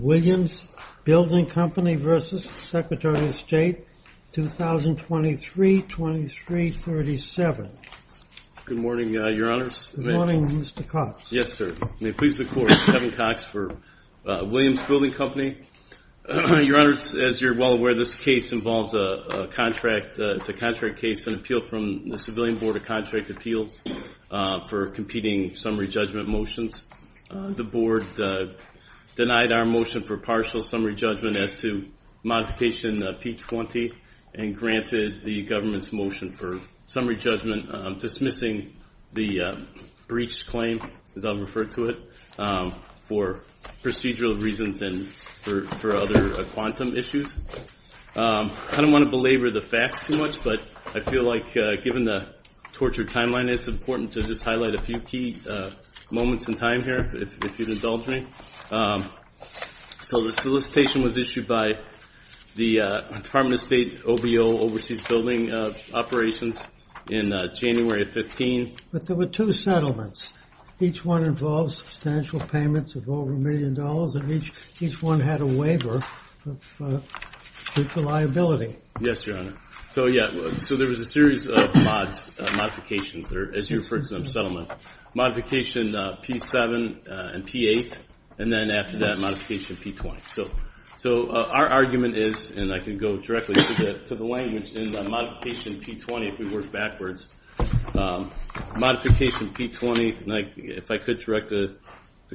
Williams Building Company, Inc. v. Secretary of State, 2023-2337 Motion for Partial Summary Judgment as to Modification P-20 and granted the government's motion for summary judgment, dismissing the breach claim, as I'll refer to it, for procedural reasons and for other quantum issues. I don't want to belabor the facts too much, but I feel like, given the tortured timeline, it's important to just highlight a few key moments in time here, if you'd indulge me. So the solicitation was issued by the Department of State OBO, Overseas Building Operations, in January of 2015. But there were two settlements. Each one involved substantial payments of over a million dollars, and each one had a waiver of liability. Yes, Your Honor. So there was a series of mods, modifications, or as you refer to them, settlements. Modification P-7 and P-8, and then after that, Modification P-20. So our argument is, and I can go directly to the language in Modification P-20 if we work backwards, Modification P-20, if I could direct the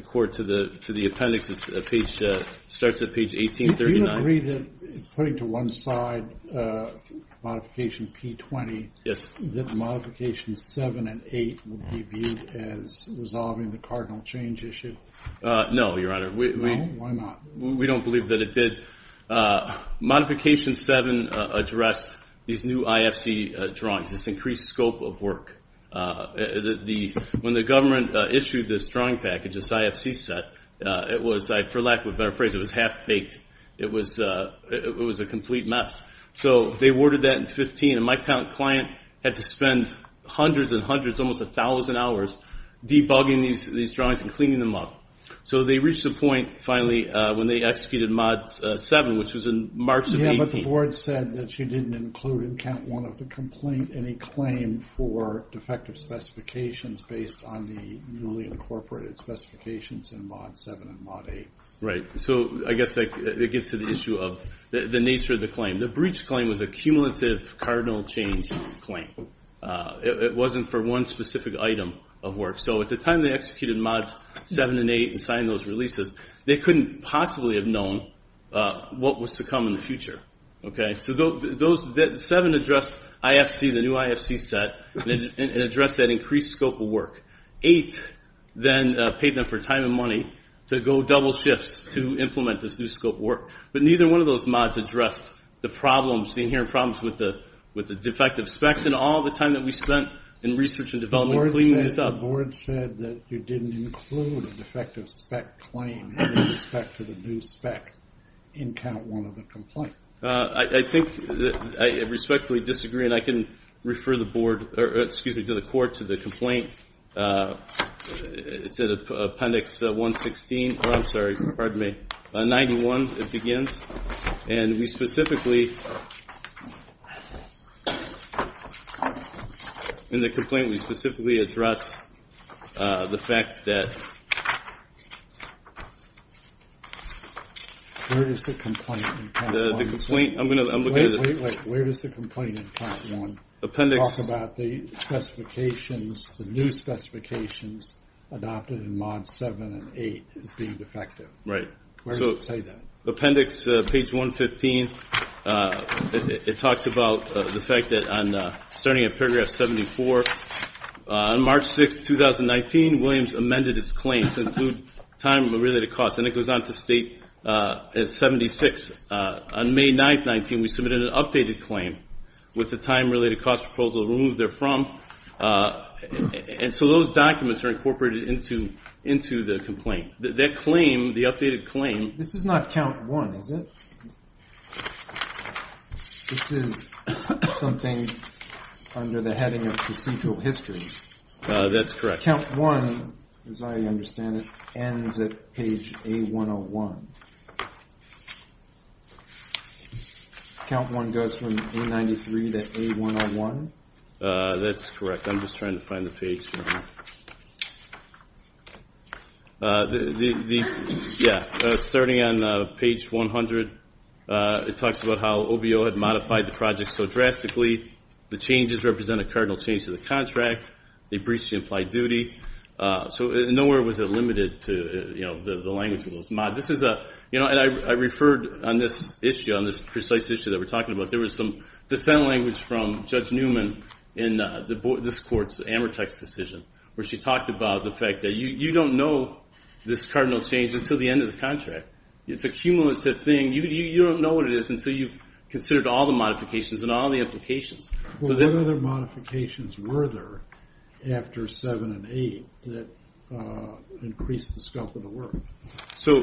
Court to the appendix, it starts at page 1839. Do you agree that, putting to one side Modification P-20, that Modification 7 and 8 would be viewed as resolving the cardinal change issue? No, Your Honor. No? Why not? We don't believe that it did. Modification 7 addressed these new IFC drawings, this increased scope of work. When the government issued this drawing package, this IFC set, it was, for lack of a better phrase, it was half-baked. It was a complete mess. So they awarded that in 2015, and my client had to spend hundreds and hundreds, almost a thousand hours, debugging these drawings and cleaning them up. So they reached a point, finally, when they executed Mod 7, which was in March of 2018. But the Board said that you didn't include in Count 1 of the complaint any claim for defective specifications based on the newly incorporated specifications in Mod 7 and Mod 8. Right. So I guess that gets to the issue of the nature of the claim. The breach claim was a cumulative cardinal change claim. It wasn't for one specific item of work. So at the time they executed Mods 7 and 8 and signed those releases, they couldn't possibly have known what was to come in the future. So 7 addressed IFC, the new IFC set, and addressed that increased scope of work. 8 then paid them for time and money to go double shifts to implement this new scope of work. But neither one of those mods addressed the inherent problems with the defective specs. Based on all the time that we spent in research and development cleaning this up. The Board said that you didn't include a defective spec claim with respect to the new spec in Count 1 of the complaint. I think that I respectfully disagree, and I can refer the Board, or excuse me, to the Court, to the complaint. It's in Appendix 116, or I'm sorry, pardon me, 91, it begins. And we specifically, in the complaint we specifically address the fact that. Where is the complaint in Count 1? The complaint, I'm going to look at it. Wait, wait, wait, where is the complaint in Count 1? Appendix. Talk about the specifications, the new specifications adopted in Mods 7 and 8 being defective. Right. Where does it say that? Appendix, page 115, it talks about the fact that starting at paragraph 74, on March 6, 2019, Williams amended his claim to include time-related costs, and it goes on to state 76. On May 9, 19, we submitted an updated claim with the time-related cost proposal removed therefrom. And so those documents are incorporated into the complaint. That claim, the updated claim. This is not Count 1, is it? This is something under the heading of procedural history. That's correct. Count 1, as I understand it, ends at page A101. Count 1 goes from A93 to A101? That's correct. I'm just trying to find the page. Yeah, starting on page 100, it talks about how OBO had modified the project so drastically. The changes represent a cardinal change to the contract. They breached the implied duty. So nowhere was it limited to the language of those mods. And I referred on this issue, on this precise issue that we're talking about, there was some dissent language from Judge Newman in this court's Amortex decision, where she talked about the fact that you don't know this cardinal change until the end of the contract. It's a cumulative thing. You don't know what it is until you've considered all the modifications and all the implications. What other modifications were there after 7 and 8 that increased the scope of the work? There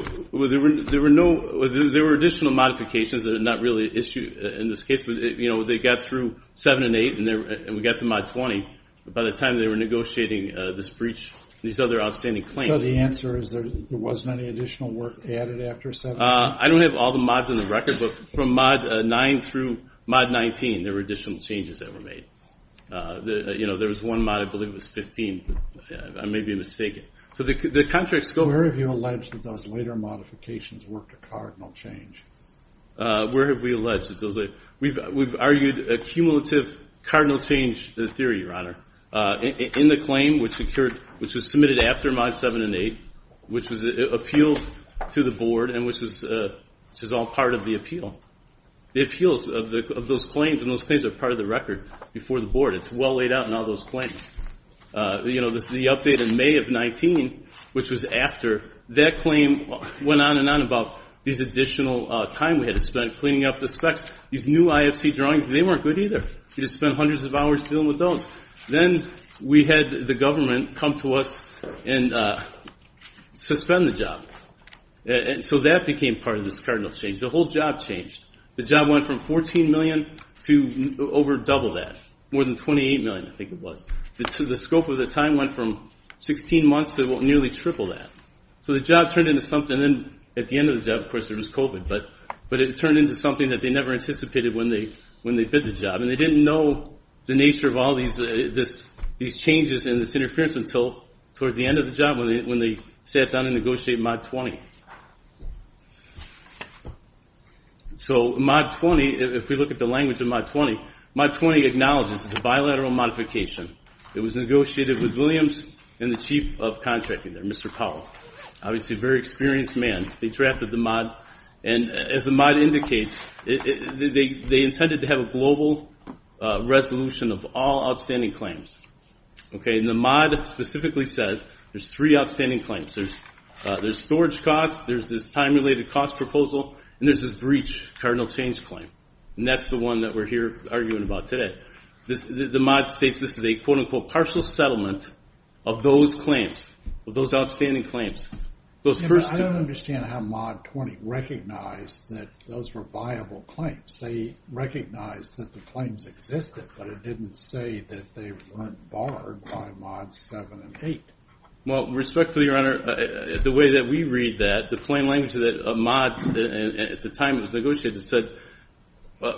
were additional modifications that are not really issued in this case. They got through 7 and 8, and we got to mod 20. By the time they were negotiating this breach, these other outstanding claims. So the answer is there wasn't any additional work added after 7 and 8? I don't have all the mods on the record, but from mod 9 through mod 19, there were additional changes that were made. There was one mod, I believe it was 15. I may be mistaken. Where have you alleged that those later modifications worked a cardinal change? Where have we alleged? We've argued a cumulative cardinal change theory, Your Honor, in the claim which was submitted after mods 7 and 8, which appeals to the board and which is all part of the appeal. The appeals of those claims and those claims are part of the record before the board. It's well laid out in all those claims. The update in May of 19, which was after, that claim went on and on about these additional time we had to spend cleaning up the specs. These new IFC drawings, they weren't good either. We just spent hundreds of hours dealing with those. Then we had the government come to us and suspend the job. So that became part of this cardinal change. The whole job changed. The job went from $14 million to over double that. More than $28 million, I think it was. The scope of the time went from 16 months to nearly triple that. So the job turned into something. At the end of the job, of course, there was COVID, but it turned into something that they never anticipated when they bid the job. They didn't know the nature of all these changes and this interference until toward the end of the job when they sat down and negotiated mod 20. So mod 20, if we look at the language of mod 20, mod 20 acknowledges it's a bilateral modification. It was negotiated with Williams and the chief of contracting there, Mr. Powell, obviously a very experienced man. They drafted the mod, and as the mod indicates, they intended to have a global resolution of all outstanding claims. The mod specifically says there's three outstanding claims. There's storage costs, there's this time-related cost proposal, and there's this breach cardinal change claim. And that's the one that we're here arguing about today. The mod states this is a quote-unquote partial settlement of those claims, of those outstanding claims. I don't understand how mod 20 recognized that those were viable claims. They recognized that the claims existed, but it didn't say that they weren't barred by mods 7 and 8. Well, respectfully, Your Honor, the way that we read that, the plain language of the mods at the time it was negotiated said,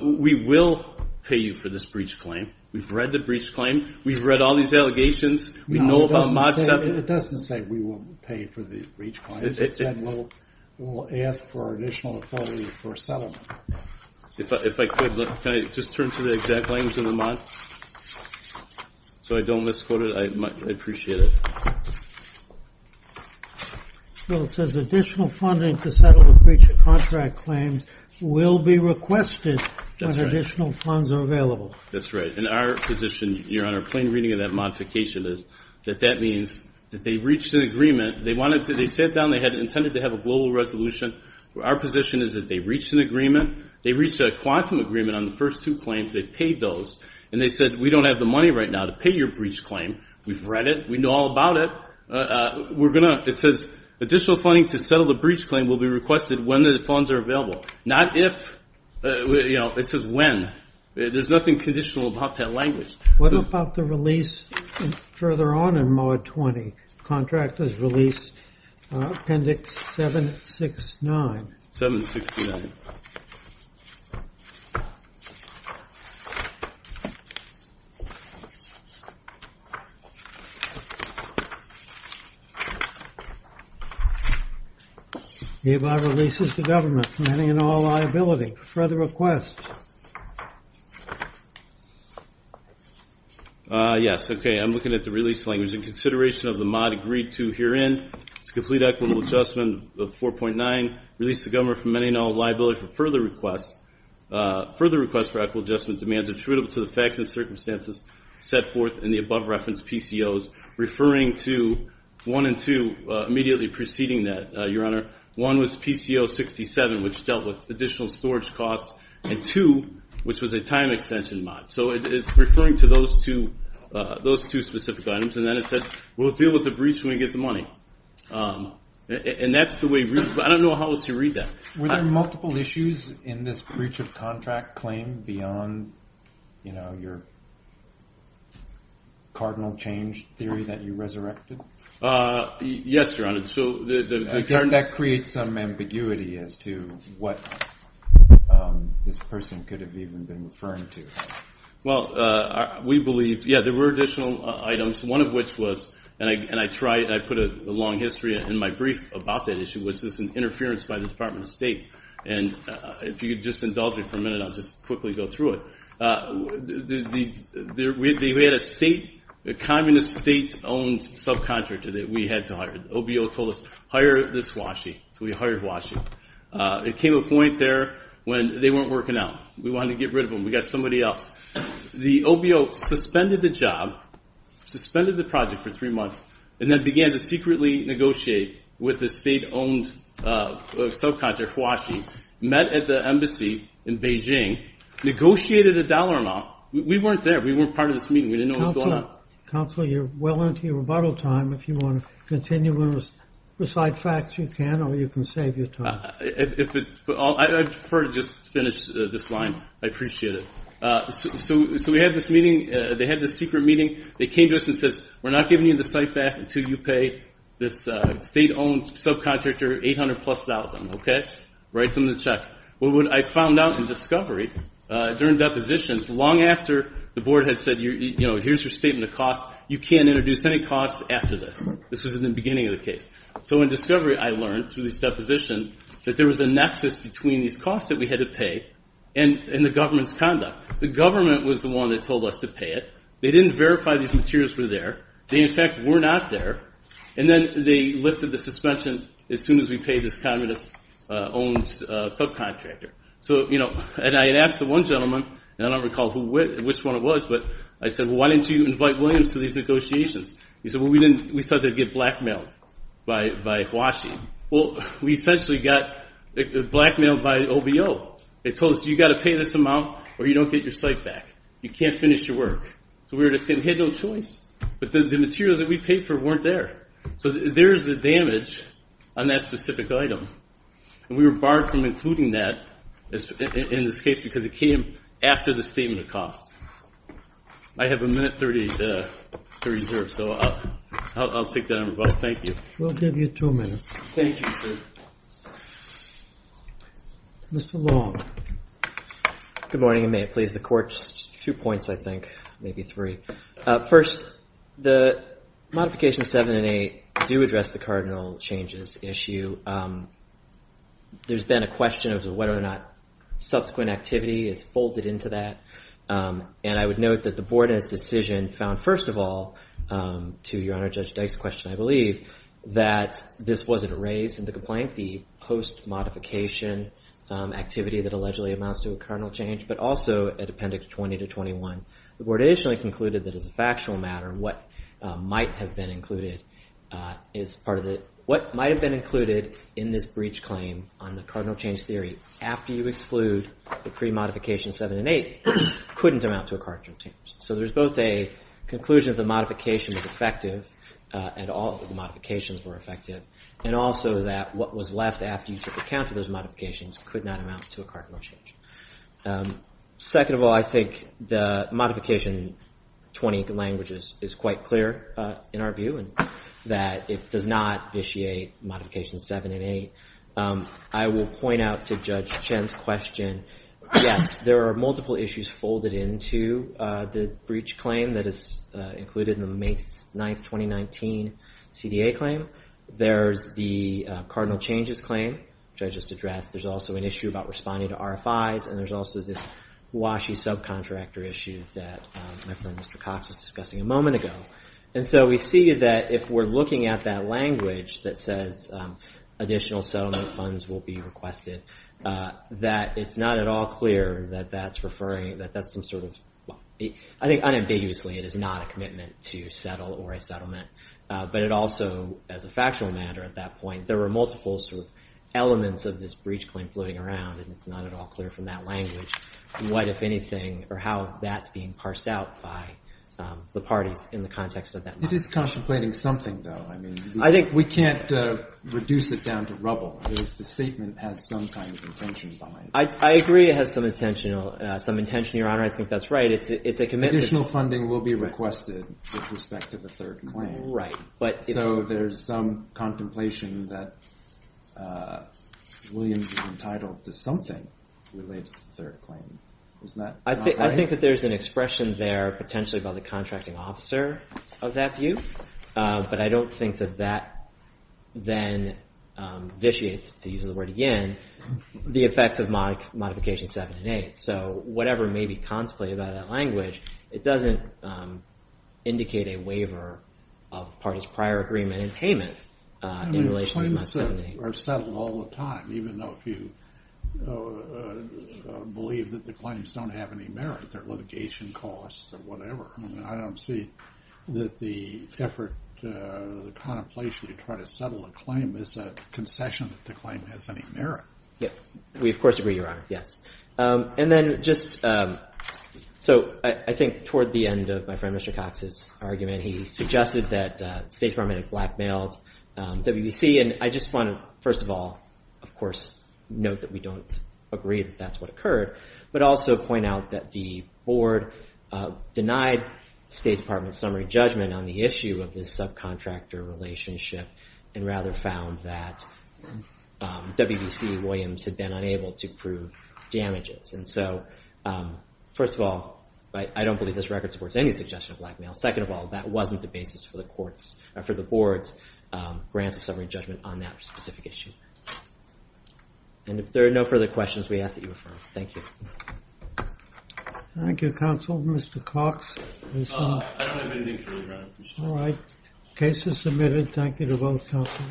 we will pay you for this breach claim. We've read the breach claim. We've read all these allegations. We know about mod 7. It doesn't say we will pay for the breach claims. It said we'll ask for additional authority for settlement. If I could, can I just turn to the exact language of the mod so I don't misquote it? I appreciate it. Well, it says additional funding to settle the breach contract claims will be requested when additional funds are available. That's right. And our position, Your Honor, plain reading of that modification is that that means that they reached an agreement. They sat down. They had intended to have a global resolution. Our position is that they reached an agreement. They reached a quantum agreement on the first two claims. They paid those. And they said we don't have the money right now to pay your breach claim. We've read it. We know all about it. It says additional funding to settle the breach claim will be requested when the funds are available. Not if. It says when. There's nothing conditional about that language. What about the release further on in mod 20, contract as released, appendix 769? 769. Hereby releases the government from any and all liability. Further requests? Yes, okay, I'm looking at the release language. In consideration of the mod agreed to herein, it's a complete equitable adjustment of 4.9, release the government from any and all liability for further requests, further requests for equitable adjustment demands attributable to the facts and circumstances set forth in the above reference PCOs, referring to one and two, immediately preceding that, Your Honor. One was PCO 67, which dealt with additional storage costs. And two, which was a time extension mod. So it's referring to those two specific items. And then it said we'll deal with the breach when we get the money. And that's the way. I don't know how else to read that. Were there multiple issues in this breach of contract claim beyond, you know, your cardinal change theory that you resurrected? Yes, Your Honor. That creates some ambiguity as to what this person could have even been referring to. Well, we believe, yeah, there were additional items, one of which was, and I put a long history in my brief about that issue, was this interference by the Department of State. And if you could just indulge me for a minute, I'll just quickly go through it. We had a state, a communist state-owned subcontractor that we had to hire. The OBO told us, hire this Washi. So we hired Washi. It came to a point there when they weren't working out. We wanted to get rid of them. We got somebody else. The OBO suspended the job, suspended the project for three months, and then began to secretly negotiate with the state-owned subcontractor, Washi, met at the embassy in Beijing, negotiated a dollar amount. We weren't there. We weren't part of this meeting. We didn't know what was going on. Counsel, you're well into your rebuttal time. If you want to continue and recite facts, you can, or you can save your time. I prefer to just finish this line. I appreciate it. So we had this meeting. They had this secret meeting. They came to us and said, we're not giving you the site back until you pay this state-owned subcontractor 800 plus thousand. Write them the check. What I found out in discovery during depositions, long after the board had said, you know, here's your statement of costs, you can't introduce any costs after this. This was in the beginning of the case. So in discovery I learned through this deposition that there was a nexus between these costs that we had to pay and the government's conduct. The government was the one that told us to pay it. They didn't verify these materials were there. They, in fact, were not there. And then they lifted the suspension as soon as we paid this communist-owned subcontractor. So, you know, and I had asked the one gentleman, and I don't recall which one it was, but I said, well, why didn't you invite Williams to these negotiations? He said, well, we thought they'd get blackmailed by Huaxi. Well, we essentially got blackmailed by OBO. They told us, you've got to pay this amount or you don't get your site back. You can't finish your work. So we had no choice, but the materials that we paid for weren't there. So there's the damage on that specific item. And we were barred from including that in this case because it came after the statement of costs. I have a minute 30 to reserve, so I'll take that on rebuttal. Thank you. We'll give you two minutes. Thank you, sir. Mr. Long. Good morning, and may it please the Court. Two points, I think, maybe three. First, the modifications 7 and 8 do address the cardinal changes issue. There's been a question as to whether or not subsequent activity is folded into that. And I would note that the Board, in its decision, found, first of all, to Your Honor, Judge Dyke's question, I believe, that this wasn't a raise in the complaint, the post-modification activity that allegedly amounts to a cardinal change, but also at Appendix 20 to 21, the Board additionally concluded that as a factual matter, what might have been included in this breach claim on the cardinal change theory after you exclude the pre-modification 7 and 8 couldn't amount to a cardinal change. So there's both a conclusion that the modification was effective, and all of the modifications were effective, and also that what was left after you took account of those modifications could not amount to a cardinal change. Second of all, I think the Modification 20 language is quite clear in our view, and that it does not vitiate Modifications 7 and 8. I will point out to Judge Chen's question, yes, there are multiple issues folded into the breach claim that is included in the May 9, 2019, CDA claim. There's the cardinal changes claim, which I just addressed. There's also an issue about responding to RFIs, and there's also this WASHI subcontractor issue that my friend Mr. Cox was discussing a moment ago. And so we see that if we're looking at that language that says additional settlement funds will be requested, that it's not at all clear that that's referring, that that's some sort of, I think unambiguously it is not a commitment to settle or a settlement. But it also, as a factual matter at that point, there were multiple sort of elements of this breach claim floating around, and it's not at all clear from that language what, if anything, or how that's being parsed out by the parties in the context of that. It is contemplating something, though. I think we can't reduce it down to rubble. The statement has some kind of intention behind it. I agree it has some intention, Your Honor. I think that's right. It's a commitment. Additional funding will be requested with respect to the third claim. Right. So there's some contemplation that Williams is entitled to something related to the third claim. I think that there's an expression there potentially by the contracting officer of that view. But I don't think that that then vitiates, to use the word again, the effects of Modification 7 and 8. So whatever may be contemplated by that language, it doesn't indicate a waiver of parties' prior agreement in payment in relation to Modification 7 and 8. They are settled all the time, even though a few believe that the claims don't have any merit. They're litigation costs or whatever. I don't see that the effort, the contemplation to try to settle a claim is a concession that the claim has any merit. We, of course, agree, Your Honor. Yes. And then just so I think toward the end of my friend Mr. Cox's argument, he suggested that the State Department had blackmailed WBC. And I just want to, first of all, of course, note that we don't agree that that's what occurred, but also point out that the Board denied the State Department's summary judgment on the issue of this subcontractor relationship and rather found that WBC and Williams had been unable to prove damages. And so, first of all, I don't believe this record supports any suggestion of blackmail. Second of all, that wasn't the basis for the Board's grant of summary judgment on that specific issue. And if there are no further questions, we ask that you refer. Thank you. Thank you, Counsel. Mr. Cox? I don't have anything to read, Your Honor. All right. Case is submitted. Thank you to both counsels.